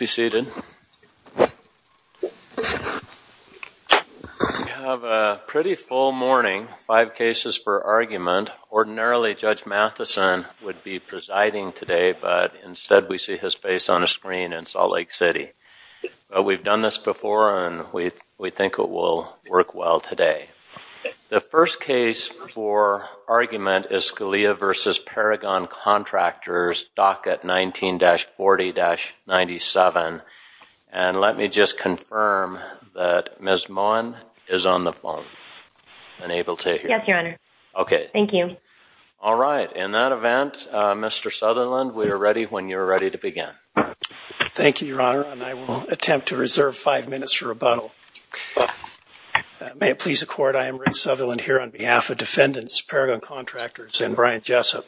We have a pretty full morning, five cases for argument. Ordinarily, Judge Matheson would be presiding today, but instead we see his face on a screen in Salt Lake City. We've done this before and we think it will work well today. The first case for argument is Scalia v. Paragon Contractors, docket 19-40-97. And let me just confirm that Ms. Mohan is on the phone and able to hear me. Yes, Your Honor. Okay. Thank you. All right. In that event, Mr. Sutherland, we are ready when you're ready to begin. Thank you, Your Honor, and I will attempt to reserve five minutes for rebuttal. May it please the Court, I am Rick Sutherland here on behalf of Defendants, Paragon Contractors, and Brian Jessup.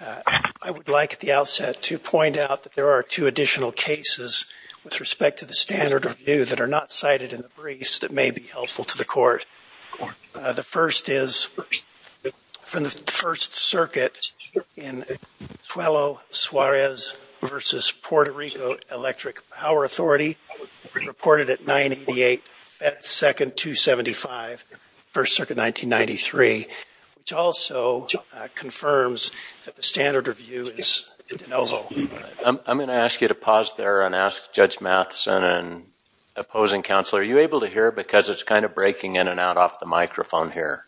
I would like at the outset to point out that there are two additional cases with respect to the standard review that are not cited in the briefs that may be helpful to the Court. The first is from the First Circuit in Cuello-Suarez v. Puerto Rico Electric Power Authority, reported at 988-F2-275, First Circuit 1993, which also confirms that the standard review is in denovo. I'm going to ask you to pause there and ask Judge Matheson and opposing counsel, are you able to hear? Because it's kind of breaking in and out off the microphone here.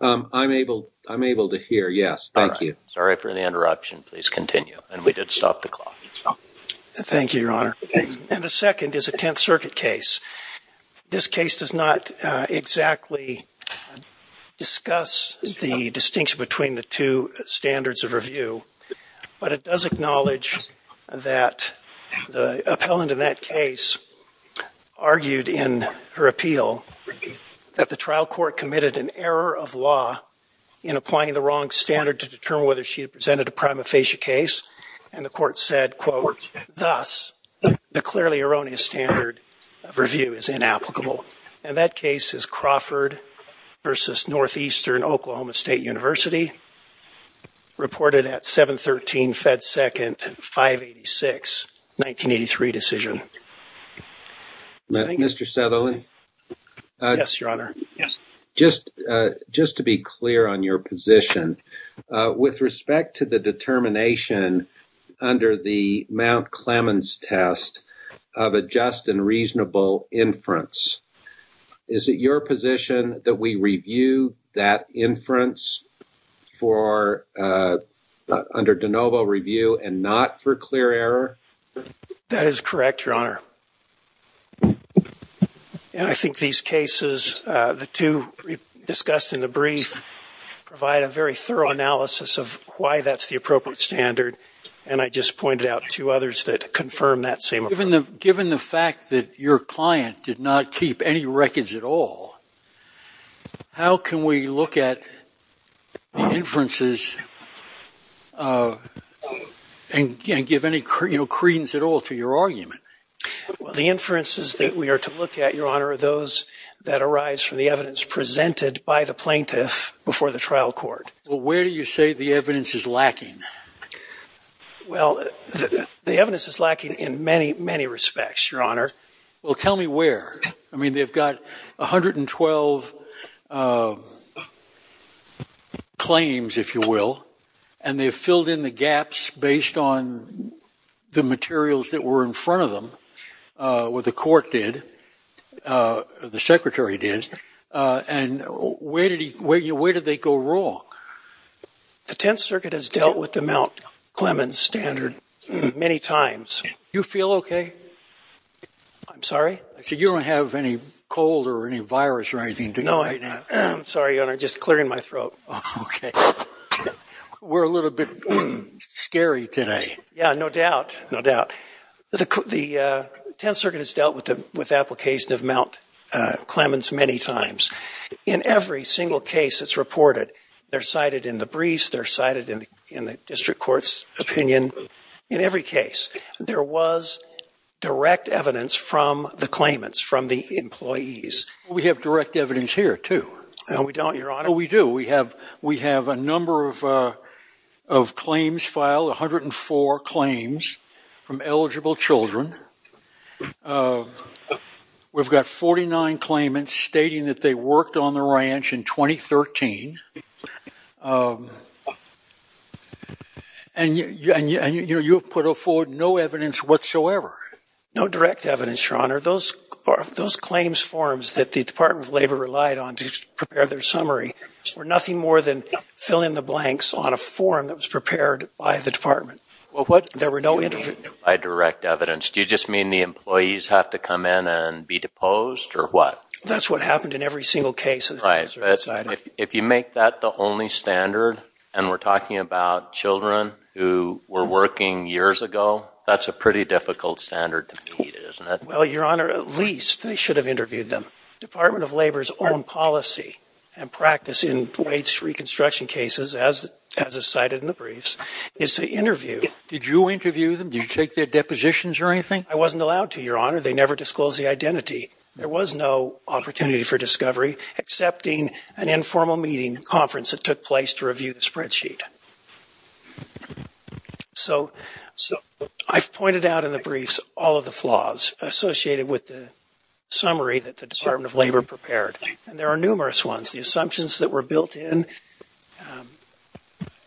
I'm able to hear, yes. Thank you. All right. Sorry for the interruption. Please continue. And we did stop the clock. Thank you, Your Honor. And the second is a Tenth Circuit case. This case does not exactly discuss the distinction between the two standards of review, but it does acknowledge that the appellant in that case argued in her appeal that the trial court committed an error of law in applying the wrong standard to determine whether she had presented a prima facie case. And the court said, quote, thus, the clearly erroneous standard of review is inapplicable. And that case is Crawford v. Northeastern Oklahoma State University, reported at 713-F2-586, 1983 decision. Mr. Sutherland? Yes, Your Honor. Yes. Just to be clear on your position, with respect to the determination under the Mount Clemens test of a just and reasonable inference, is it your position that we review that inference under de novo review and not for clear error? That is correct, Your Honor. And I think these cases, the two discussed in the brief, provide a very thorough analysis of why that's the appropriate standard. And I just pointed out two others that confirm that same approach. Given the fact that your client did not keep any records at all, how can we look at inferences and give any credence at all to your argument? Well, the inferences that we are to look at, Your Honor, are those that arise from the evidence presented by the plaintiff before the trial court. Well, where do you say the evidence is lacking? Well, the evidence is lacking in many, many respects, Your Honor. Well, tell me where. I mean, they've got 112 claims, if you will, and they've filled in the gaps based on the materials that were in front of them, what the court did, the secretary did. And where did they go wrong? The Tenth Circuit has dealt with the Mount Clemens standard many times. You feel okay? I'm sorry? I said you don't have any cold or any virus or anything do you right now? No, I'm sorry, Your Honor. Just clearing my throat. Okay. We're a little bit scary today. Yeah, no doubt, no doubt. The Tenth Circuit has dealt with the application of Mount Clemens many times. In every single case that's reported, they're cited in the briefs, they're cited in the district court's opinion. In every case, there was direct evidence from the claimants, from the employees. We have direct evidence here, too. No, we don't, Your Honor. We do. We have a number of claims filed, 104 claims from eligible children. We've got 49 claimants stating that they worked on the ranch in 2013. And you have put forward no evidence whatsoever. No direct evidence, Your Honor. Those claims forms that the Department of Labor relied on to prepare their summary were nothing more than fill-in-the-blanks on a form that was prepared by the department. There were no interviews. No direct evidence. Do you just mean the employees have to come in and be deposed, or what? That's what happened in every single case. Right. But if you make that the only standard, and we're talking about children who were working years ago, that's a pretty difficult standard to meet, isn't it? Well, Your Honor, at least they should have interviewed them. Department of Labor's own policy and practice in Dwight's reconstruction cases, as is cited in the briefs, is to interview— Did you interview them? Did you take their depositions or anything? I wasn't allowed to, Your Honor. They never disclosed the identity. There was no opportunity for discovery, excepting an informal meeting conference that took place to review the spreadsheet. So I've pointed out in the briefs all of the flaws associated with the summary that the Department of Labor prepared, and there are numerous ones. The assumptions that were built in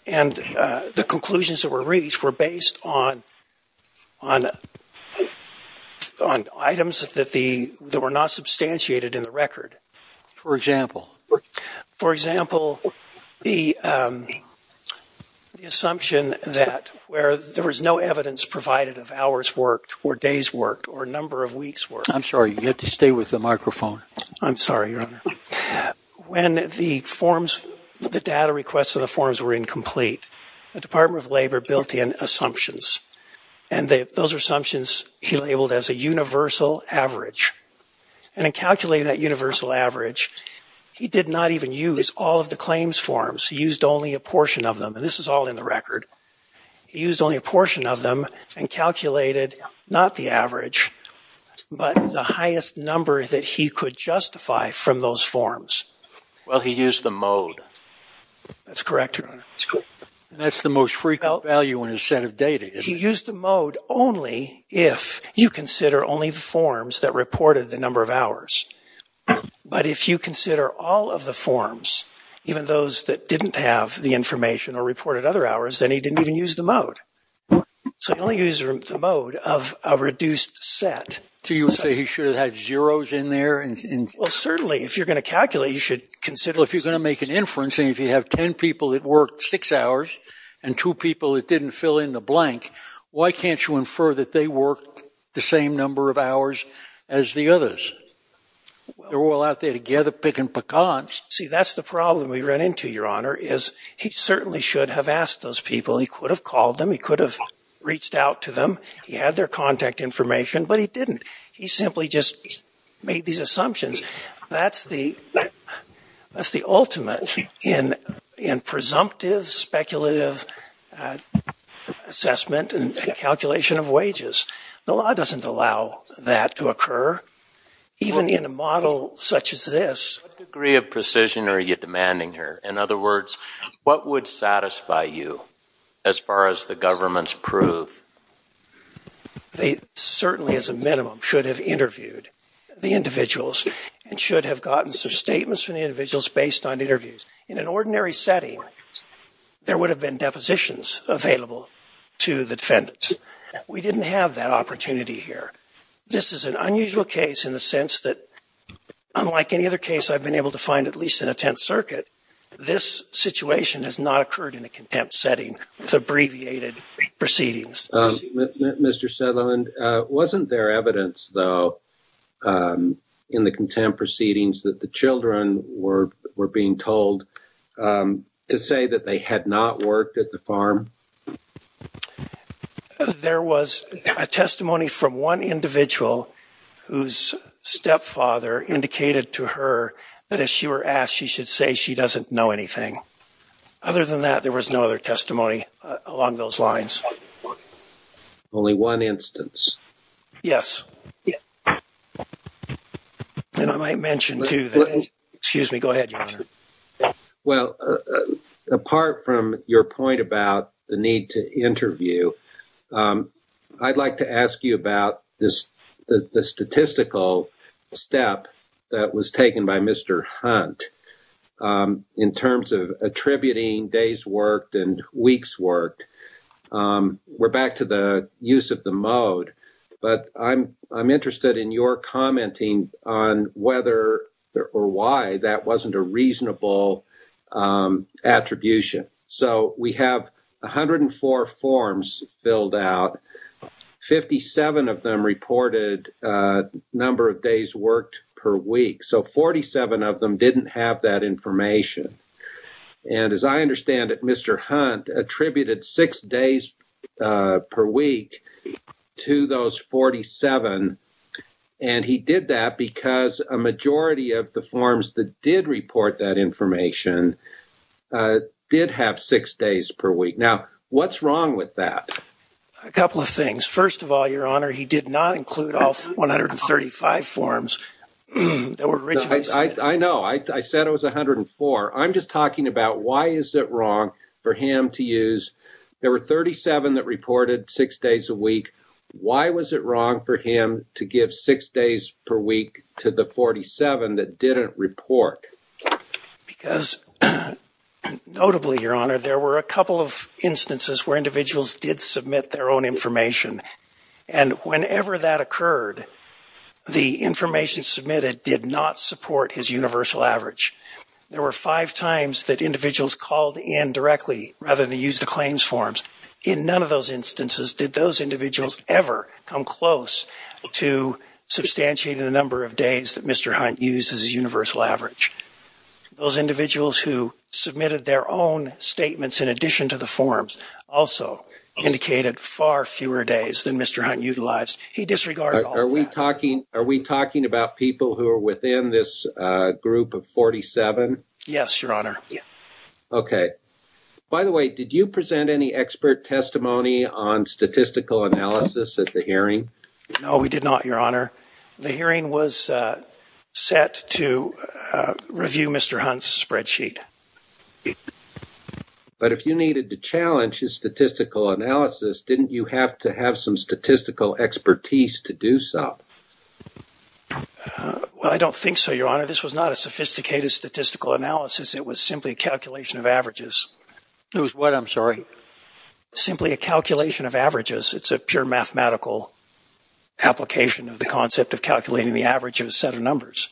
and the conclusions that were reached were based on items that were not substantiated in the record. For example? For example, the assumption that where there was no evidence provided of hours worked or days worked or number of weeks worked— I'm sorry. You have to stay with the microphone. I'm sorry, Your Honor. When the forms, the data requests of the forms were incomplete, the Department of Labor built in assumptions, and those assumptions he labeled as a universal average. And in calculating that universal average, he did not even use all of the claims forms. He used only a portion of them, and this is all in the record. He used only a portion of them and calculated not the average, but the highest number that he could justify from those forms. Well, he used the mode. That's correct, Your Honor. That's correct. And that's the most frequent value in a set of data, isn't it? He used the mode only if you consider only the forms that reported the number of hours. But if you consider all of the forms, even those that didn't have the information or reported other hours, then he didn't even use the mode. So he only used the mode of a reduced set. So you say he should have had zeros in there? Well, certainly, if you're going to calculate, you should consider... Well, if you're going to make an inference, and if you have ten people that worked six hours and two people that didn't fill in the blank, why can't you infer that they worked the same number of hours as the others? They're all out there together picking pecans. See, that's the problem we ran into, Your Honor, is he certainly should have asked those people. He could have called them. He could have reached out to them. He had their contact information, but he didn't. He simply just made these assumptions. That's the ultimate in presumptive, speculative assessment and calculation of wages. The law doesn't allow that to occur, even in a model such as this. What degree of precision are you demanding here? In other words, what would satisfy you as far as the government's proof? They certainly, as a minimum, should have interviewed the individuals and should have gotten some statements from the individuals based on interviews. In an ordinary setting, there would have been depositions available to the defendants. We didn't have that opportunity here. This is an unusual case in the sense that, unlike any other case I've been able to find at least in a Tenth Circuit, this situation has not occurred in a contempt setting with abbreviated proceedings. Mr. Settleman, wasn't there evidence, though, in the contempt proceedings that the children were being told to say that they had not worked at the farm? There was a testimony from one individual whose stepfather indicated to her that if she were asked, she should say she doesn't know anything. Other than that, there was no other testimony along those lines. Only one instance? Yes. And I might mention, too, that – excuse me, go ahead, Your Honor. Well, apart from your point about the need to interview, I'd like to ask you about the statistical step that was taken by Mr. Hunt in terms of attributing days worked and weeks worked. We're back to the use of the mode, but I'm interested in your commenting on whether or why that wasn't a reasonable attribution. So we have 104 forms filled out, 57 of them reported number of days worked per week. So 47 of them didn't have that information. And as I understand it, Mr. Hunt attributed six days per week to those 47, and he did that because a majority of the forms that did report that information did have six days per week. Now, what's wrong with that? A couple of things. First of all, Your Honor, he did not include all 135 forms that were originally submitted. I know. I said it was 104. I'm just talking about why is it wrong for him to use – there were 37 that reported six days a week. Why was it wrong for him to give six days per week to the 47 that didn't report? Because notably, Your Honor, there were a couple of instances where individuals did submit their own information. And whenever that occurred, the information submitted did not support his universal average. There were five times that individuals called in directly rather than use the claims forms. In none of those instances did those individuals ever come close to substantiating the number of days that Mr. Hunt used as his universal average. Those individuals who submitted their own statements in addition to the forms also indicated far fewer days than Mr. Hunt utilized. He disregarded all that. Are we talking about people who are within this group of 47? Yes, Your Honor. Okay. By the way, did you present any expert testimony on statistical analysis at the hearing? No, we did not, Your Honor. The hearing was set to review Mr. Hunt's spreadsheet. But if you needed to challenge his statistical analysis, didn't you have to have some statistical expertise to do so? Well, I don't think so, Your Honor. This was not a sophisticated statistical analysis. It was simply a calculation of averages. It was what, I'm sorry? Simply a calculation of averages. It's a pure mathematical application of the concept of calculating the average of a set of numbers.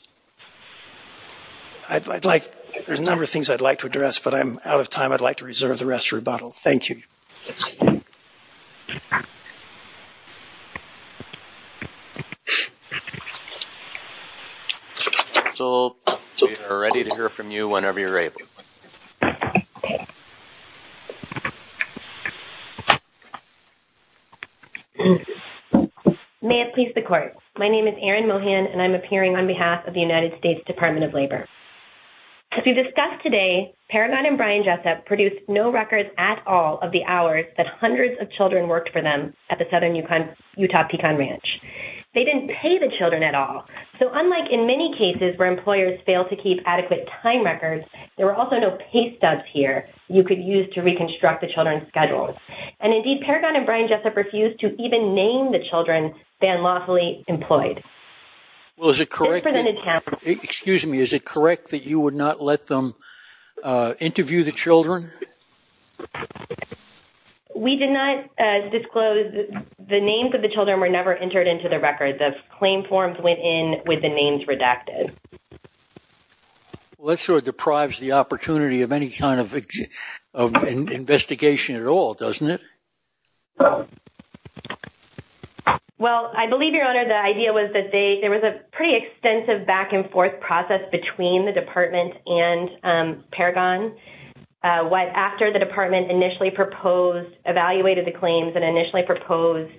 There's a number of things I'd like to address, but I'm out of time. I'd like to reserve the rest of the rebuttal. Thank you. So, we are ready to hear from you whenever you're ready. May it please the Court, my name is Erin Mohan, and I'm appearing on behalf of the United States Department of Labor. As we've discussed today, Paragon and Brian Jessup produced no records at all of the hours that hundreds of children worked for them at the Southern Utah Pecan Ranch. They didn't pay the children at all, so unlike in many cases where employers fail to keep adequate time records, there were also no pay stubs here you could use to reconstruct the children's schedules. And, indeed, Paragon and Brian Jessup refused to even name the children Van Lawsley employed. Well, is it correct that you would not let them interview the children? We did not disclose the names of the children were never entered into the records. Claim forms went in with the names redacted. Well, that sort of deprives the opportunity of any kind of investigation at all, doesn't it? Well, I believe, Your Honor, the idea was that there was a pretty extensive back-and-forth process between the Department and Paragon. After the Department initially proposed, evaluated the claims, and initially proposed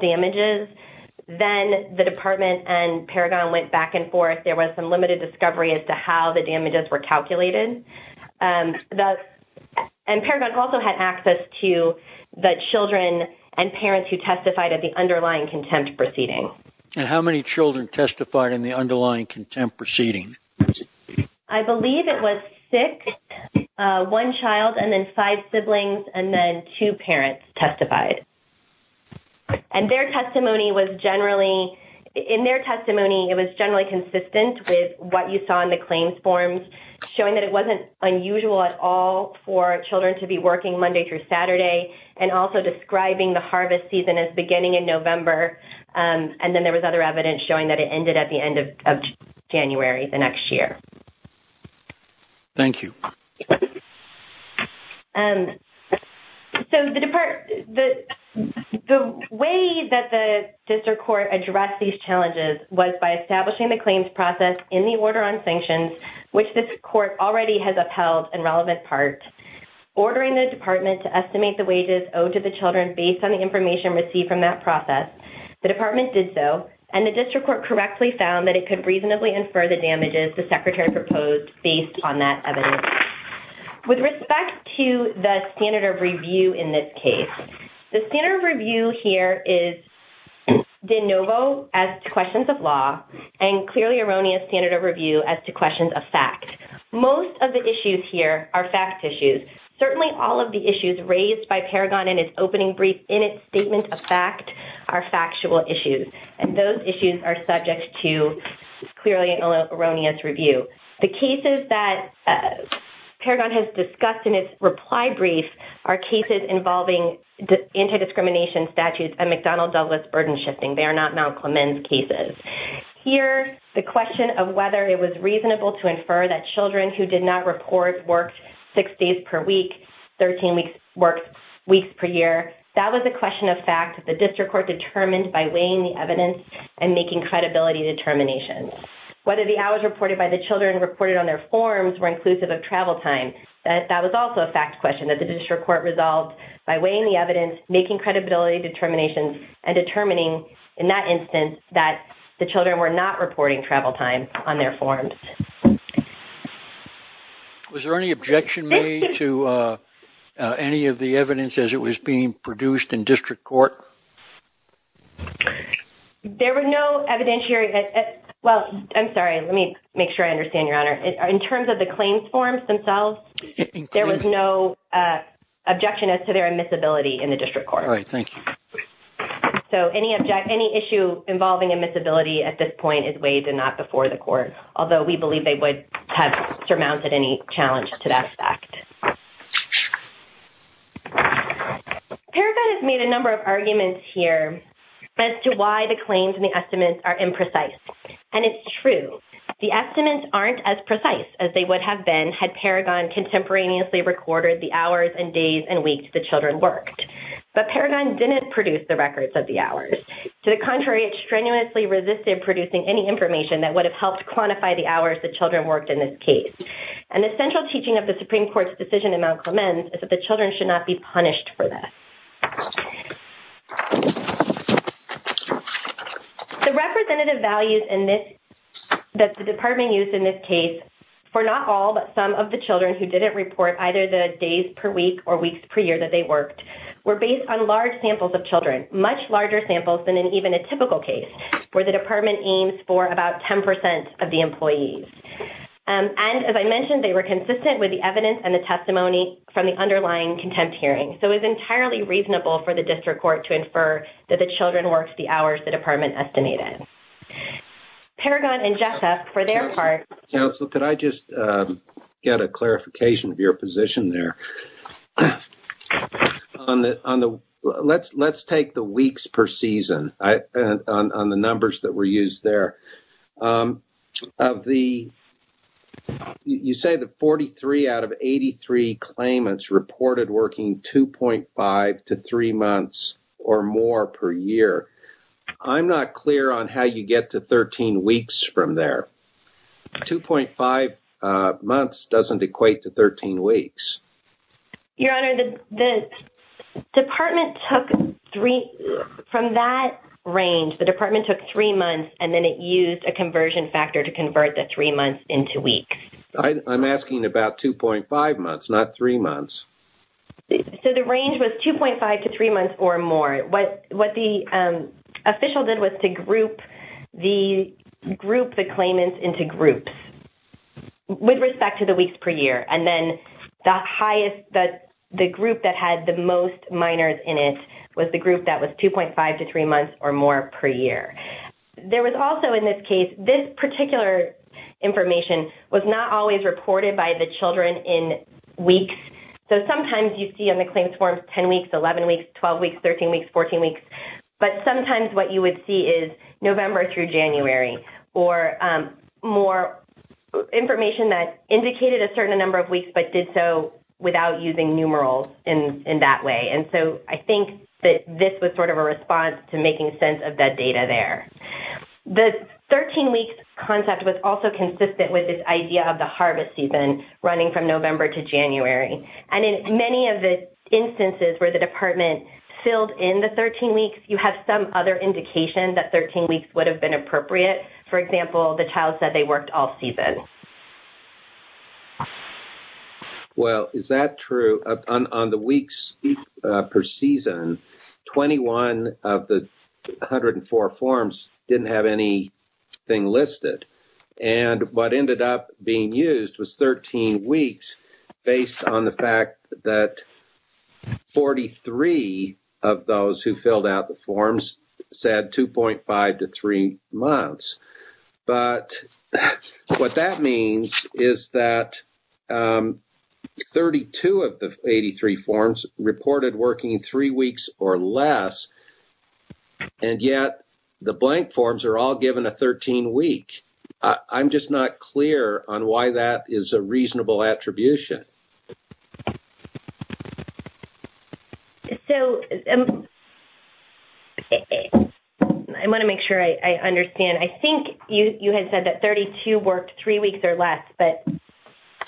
damages, then the Department and Paragon went back and forth. There was some limited discovery as to how the damages were calculated. And Paragon also had access to the children and parents who testified at the underlying contempt proceeding. And how many children testified in the underlying contempt proceeding? I believe it was six, one child, and then five siblings, and then two parents testified. And their testimony was generally, in their testimony, it was generally consistent with what you saw in the claims forms, showing that it wasn't unusual at all for children to be working Monday through Saturday, and also describing the harvest season as beginning in November. And then there was other evidence showing that it ended at the end of January, the next year. Thank you. So, the way that the District Court addressed these challenges was by establishing the claims process in the order on sanctions, which this Court already has upheld in relevant part. Ordering the Department to estimate the wages owed to the children based on the information received from that process, the Department did so, and the District Court correctly found that it could reasonably infer the damages the Secretary proposed based on that evidence. With respect to the standard of review in this case, the standard of review here is innovo as to questions of law, and clearly erroneous standard of review as to questions of fact. Most of the issues here are fact issues. Certainly all of the issues raised by Paragon in its opening brief in its statement of fact are factual issues, and those issues are subject to clearly erroneous review. The cases that Paragon has discussed in its reply brief are cases involving anti-discrimination statutes and McDonnell-Douglas burden shifting. They are not Mount Clemens cases. Here the question of whether it was reasonable to infer that children who did not report worked six days per week, 13 weeks per year, that was a question of fact that the District Court determined by weighing the evidence and making credibility determinations. Whether the hours reported by the children reported on their forms were inclusive of travel time, that was also a fact question that the District Court resolved by weighing the evidence, making credibility determinations, and determining in that instance that the children were not reporting travel time on their forms. Was there any objection made to any of the evidence as it was being produced in District Court? There was no evidentiary – well, I'm sorry, let me make sure I understand, Your Honor. In terms of the claims forms themselves, there was no objection as to their admissibility in the District Court. All right. Thank you. So any issue involving admissibility at this point is weighed and not before the court, although we believe they would have surmounted any challenge to that fact. Paragon has made a number of arguments here as to why the claims and the estimates are imprecise. And it's true. The estimates aren't as precise as they would have been had Paragon contemporaneously recorded the hours and days and weeks the children worked. But Paragon didn't produce the records of the hours. To the contrary, it strenuously resisted producing any information that would have helped quantify the hours the children worked in this case. And the central teaching of the Supreme Court's decision in Mount Clemens is that the children should not be punished for this. The representative values that the Department used in this case for not all but some of the children who didn't report either the days per week or weeks per year that they worked were based on large samples of children, much larger samples than in even a typical case where the Department aims for about 10 percent of the employees. And as I mentioned, they were consistent with the evidence and the testimony from the underlying contempt hearing. So it was entirely reasonable for the District Court to infer that the children worked the hours the Department estimated. Paragon and Jessup, for their part— Counselor, could I just get a clarification of your position there? Let's take the weeks per season on the numbers that were used there. Of the—you say that 43 out of 83 claimants reported working 2.5 to 3 months or more per year. I'm not clear on how you get to 13 weeks from there. 2.5 months doesn't equate to 13 weeks. Your Honor, the Department took three—from that range, the Department took three months and then it used a conversion factor to convert the three months into weeks. I'm asking about 2.5 months, not three months. So the range was 2.5 to three months or more. What the official did was to group the claimants into groups with respect to the weeks per year. And then the highest—the group that had the most minors in it was the group that was 2.5 to three months or more per year. There was also, in this case, this particular information was not always reported by the children in weeks. So sometimes you see on the claims forms 10 weeks, 11 weeks, 12 weeks, 13 weeks, 14 weeks. But sometimes what you would see is November through January or more information that indicated a certain number of weeks but did so without using numerals in that way. And so I think that this was sort of a response to making sense of that data there. The 13 weeks concept was also consistent with this idea of the harvest season running from November to January. And in many of the instances where the Department filled in the 13 weeks, you have some other indication that 13 weeks would have been appropriate. For example, the child said they worked all season. Well, is that true? On the weeks per season, 21 of the 104 forms didn't have anything listed. And what ended up being used was 13 weeks based on the fact that 43 of those who filled out the forms said 2.5 to three months. But what that means is that 32 of the 83 forms reported working three weeks or less, and yet the blank forms are all given a 13-week. I'm just not clear on why that is a reasonable attribution. So I want to make sure I understand. I think you had said that 32 worked three weeks or less, but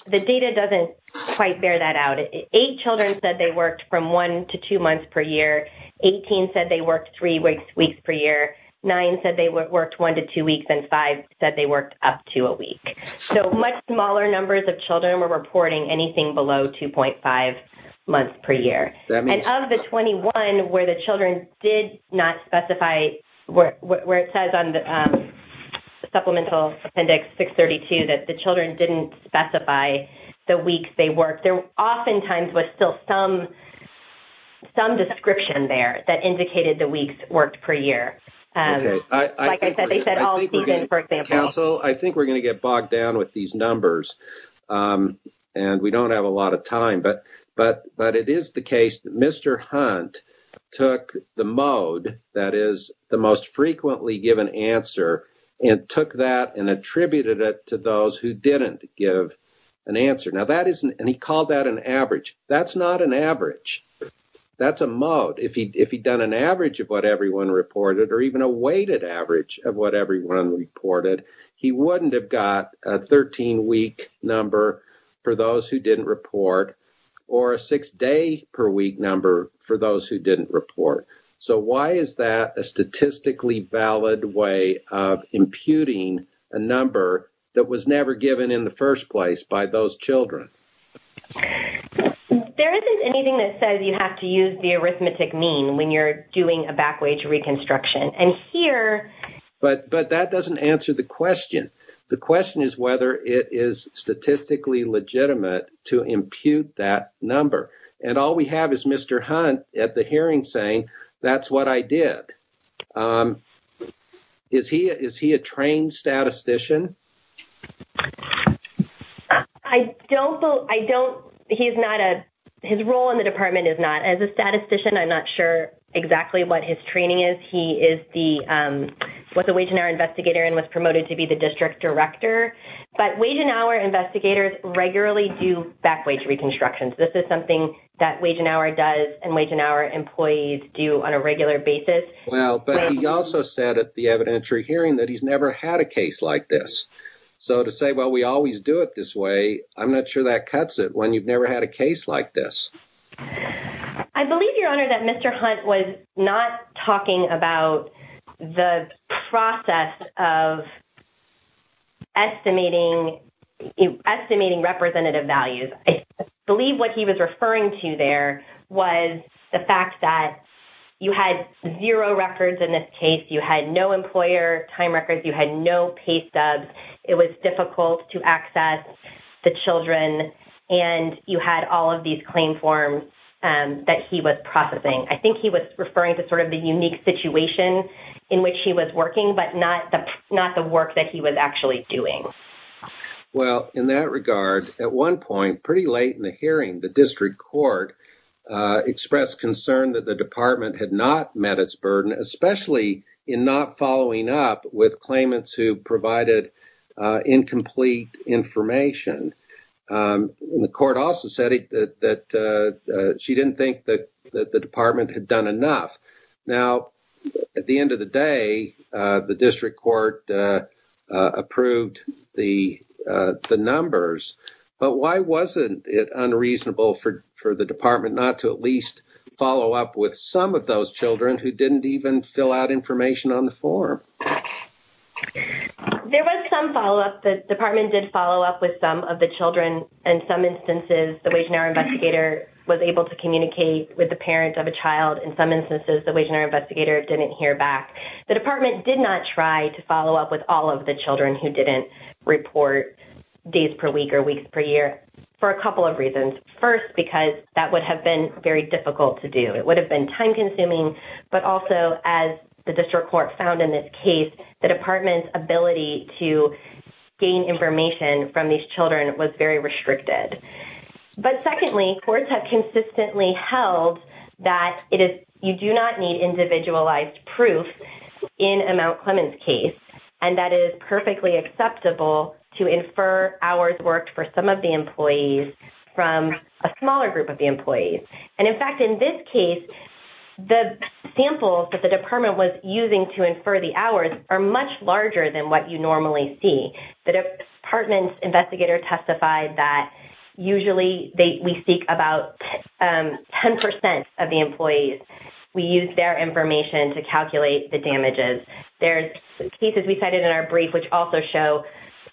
the data doesn't quite bear that out. Eight children said they worked from one to two months per year, 18 said they worked three weeks per year, nine said they worked one to two weeks, and five said they worked up to a week. So much smaller numbers of children were reporting anything below 2.5 months per year. And of the 21 where the children did not specify, where it says on the supplemental appendix 632 that the children didn't specify the weeks they worked, there oftentimes was still some description there that indicated the weeks worked per year. Like I said, they said all season, for example. I think we're going to get bogged down with these numbers, and we don't have a lot of Mr. Hunt took the mode, that is the most frequently given answer, and took that and attributed it to those who didn't give an answer. Now that isn't, and he called that an average. That's not an average. That's a mode. If he'd done an average of what everyone reported, or even a weighted average of what everyone reported, he wouldn't have got a 13-week number for those who didn't report, or a six-day per week number for those who didn't report. So why is that a statistically valid way of imputing a number that was never given in the first place by those children? There isn't anything that says you have to use the arithmetic mean when you're doing a backwage reconstruction. And here... But that doesn't answer the question. The question is whether it is statistically legitimate to impute that number. And all we have is Mr. Hunt at the hearing saying, that's what I did. Is he a trained statistician? I don't know. I don't... He is not a... His role in the department is not. As a statistician, I'm not sure exactly what his training is. He is the... Was a wage and hour investigator, and was promoted to be the district director. But wage and hour investigators regularly do backwage reconstructions. This is something that wage and hour does, and wage and hour employees do on a regular basis. Well, but he also said at the evidentiary hearing that he's never had a case like this. So to say, well, we always do it this way, I'm not sure that cuts it when you've never had a case like this. I believe, Your Honor, that Mr. Hunt was not talking about the process of estimating representative values. I believe what he was referring to there was the fact that you had zero records in this case. You had no employer time records. You had no pay stubs. It was difficult to access the children. And you had all of these claim forms that he was processing. I think he was referring to sort of the unique situation in which he was working, but not the work that he was actually doing. Well, in that regard, at one point, pretty late in the hearing, the district court expressed concern that the department had not met its burden, especially in not following up with claimants who provided incomplete information. The court also said that she didn't think that the department had done enough. Now, at the end of the day, the district court approved the numbers, but why wasn't it unreasonable for the department not to at least follow up with some of those children who didn't even fill out information on the form? There was some follow-up. The department did follow up with some of the children. In some instances, the Wage and Hour Investigator was able to communicate with the parent of the child. In some instances, the Wage and Hour Investigator didn't hear back. The department did not try to follow up with all of the children who didn't report days per week or weeks per year for a couple of reasons. First, because that would have been very difficult to do. It would have been time-consuming, but also, as the district court found in this case, the department's ability to gain information from these children was very restricted. But secondly, courts have consistently held that you do not need individualized proof in a Mount Clemens case, and that it is perfectly acceptable to infer hours worked for some of the employees from a smaller group of the employees. In fact, in this case, the samples that the department was using to infer the hours are much larger than what you normally see. The department's investigator testified that usually we seek about 10 percent of the employees. We use their information to calculate the damages. There are cases we cited in our brief which also show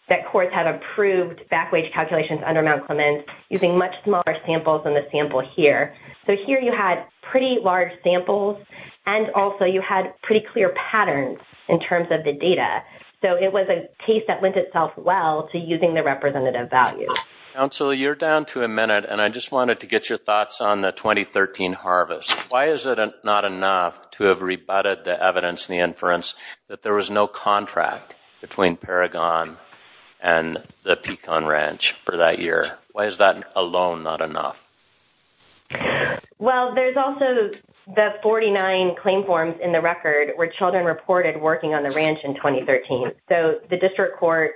that courts have approved backwage calculations under Mount Clemens using much smaller samples than the sample here. So here you had pretty large samples, and also you had pretty clear patterns in terms of the data. So it was a case that lent itself well to using the representative values. Council, you're down to a minute, and I just wanted to get your thoughts on the 2013 harvest. Why is it not enough to have rebutted the evidence in the inference that there was no contract between Paragon and the Pecan Ranch for that year? Why is that alone not enough? Well, there's also the 49 claim forms in the record where children reported working on the ranch in 2013. So the district court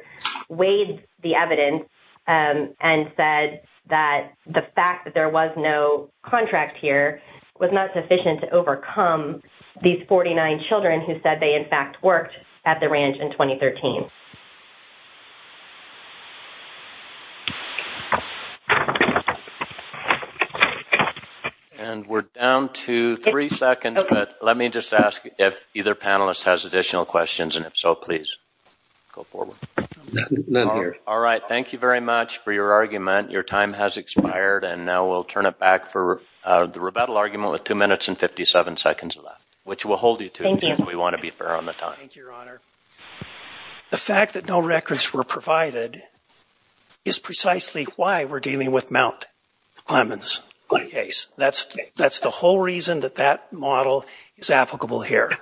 weighed the evidence and said that the fact that there was no contract here was not sufficient to overcome these 49 children who said they, in fact, worked at the ranch in 2013. And we're down to three seconds, but let me just ask if either panelist has additional questions, and if so, please go forward. None here. All right. Thank you very much for your argument. Your time has expired, and now we'll turn it back for the rebuttal argument with two minutes and 57 seconds left, which will hold you to it because we want to be fair on the time. Thank you, Your Honor. The fact that no records were provided is precisely why we're dealing with Mount Clemens case. That's the whole reason that that model is applicable here. Yeah.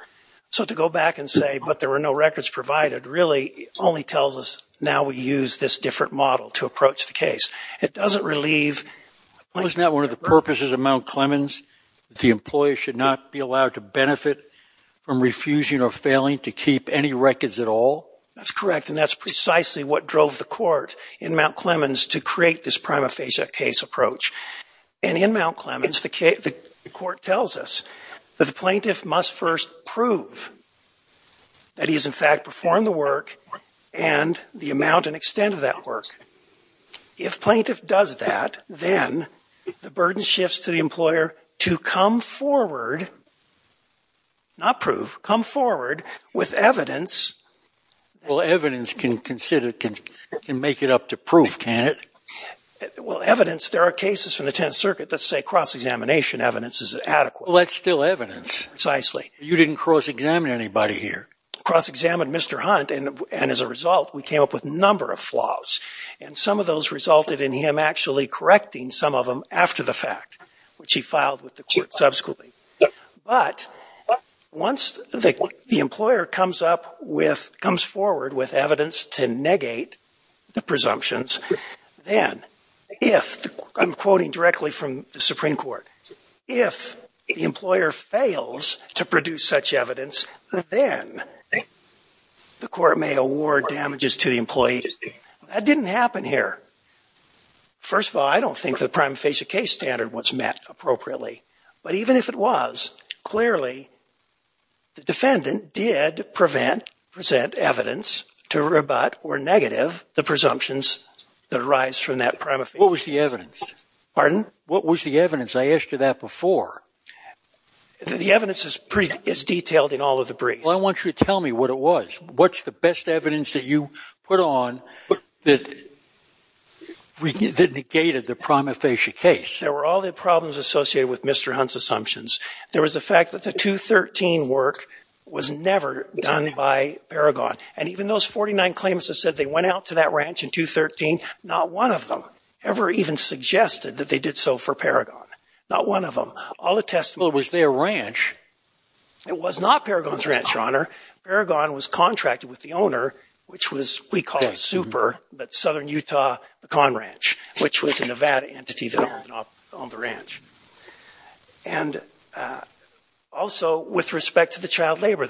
So to go back and say, but there were no records provided really only tells us now we use this different model to approach the case. It doesn't relieve... Well, isn't that one of the purposes of Mount Clemens? The employee should not be allowed to benefit from refusing or failing to keep any records at all? That's correct, and that's precisely what drove the court in Mount Clemens to create this prima facie case approach. And in Mount Clemens, the court tells us that the plaintiff must first prove that he has in fact performed the work and the amount and extent of that work. If plaintiff does that, then the burden shifts to the employer to come forward, not prove, come forward with evidence. Well, evidence can make it up to proof, can't it? Well, evidence, there are cases from the 10th Circuit that say cross-examination evidence is adequate. Well, that's still evidence. Precisely. You didn't cross-examine anybody here. Cross-examined Mr. Hunt, and as a result, we came up with a number of flaws. And some of those resulted in him actually correcting some of them after the fact, which he filed with the court subsequently. But once the employer comes forward with evidence to negate the presumptions, then if, I'm quoting directly from the Supreme Court, if the employer fails to produce such evidence, then the court may award damages to the employee. That didn't happen here. First of all, I don't think the prima facie case standard was met appropriately. But even if it was, clearly, the defendant did present evidence to rebut or negative the presumptions that arise from that prima facie case. What was the evidence? Pardon? What was the evidence? I asked you that before. The evidence is detailed in all of the briefs. Well, I want you to tell me what it was. What's the best evidence that you put on that negated the prima facie case? There were all the problems associated with Mr. Hunt's assumptions. There was the fact that the 213 work was never done by Paragon. And even those 49 claimants that said they went out to that ranch in 213, not one of them ever even suggested that they did so for Paragon. Not one of them. All the testimony... Well, it was their ranch. It was not Paragon's ranch, Your Honor. Paragon was contracted with the owner, which was, we call it super, but Southern Utah Pecan Ranch, which was a Nevada entity that owned the ranch. And also, with respect to the child labor,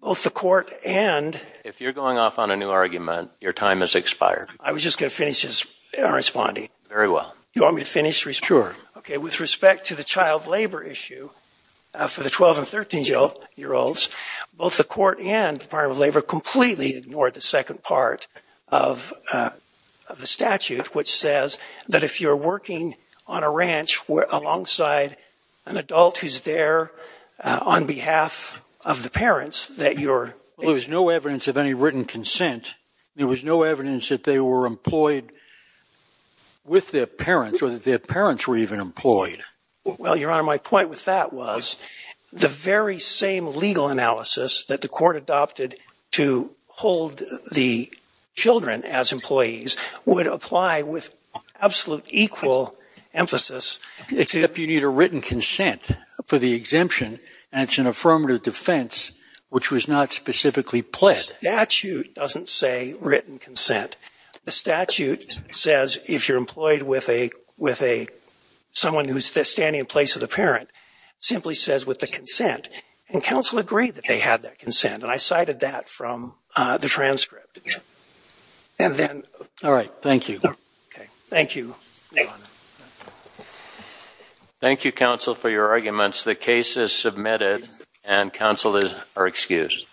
both the court and... If you're going off on a new argument, your time has expired. I was just going to finish responding. Very well. You want me to finish? Sure. Okay. With respect to the child labor issue for the 12 and 13-year-olds, both the court and the second part of the statute, which says that if you're working on a ranch alongside an adult who's there on behalf of the parents that you're... Well, there was no evidence of any written consent. There was no evidence that they were employed with their parents or that their parents were even employed. Well, Your Honor, my point with that was the very same legal analysis that the court adopted to hold the children as employees would apply with absolute equal emphasis. Except you need a written consent for the exemption, and it's an affirmative defense, which was not specifically pledged. The statute doesn't say written consent. The statute says if you're employed with someone who's standing in place of the parent, simply says with the consent. And counsel agreed that they had that consent. And I cited that from the transcript. And then... All right. Thank you. Okay. Thank you, Your Honor. Thank you, counsel, for your arguments. The case is submitted, and counsel are excused.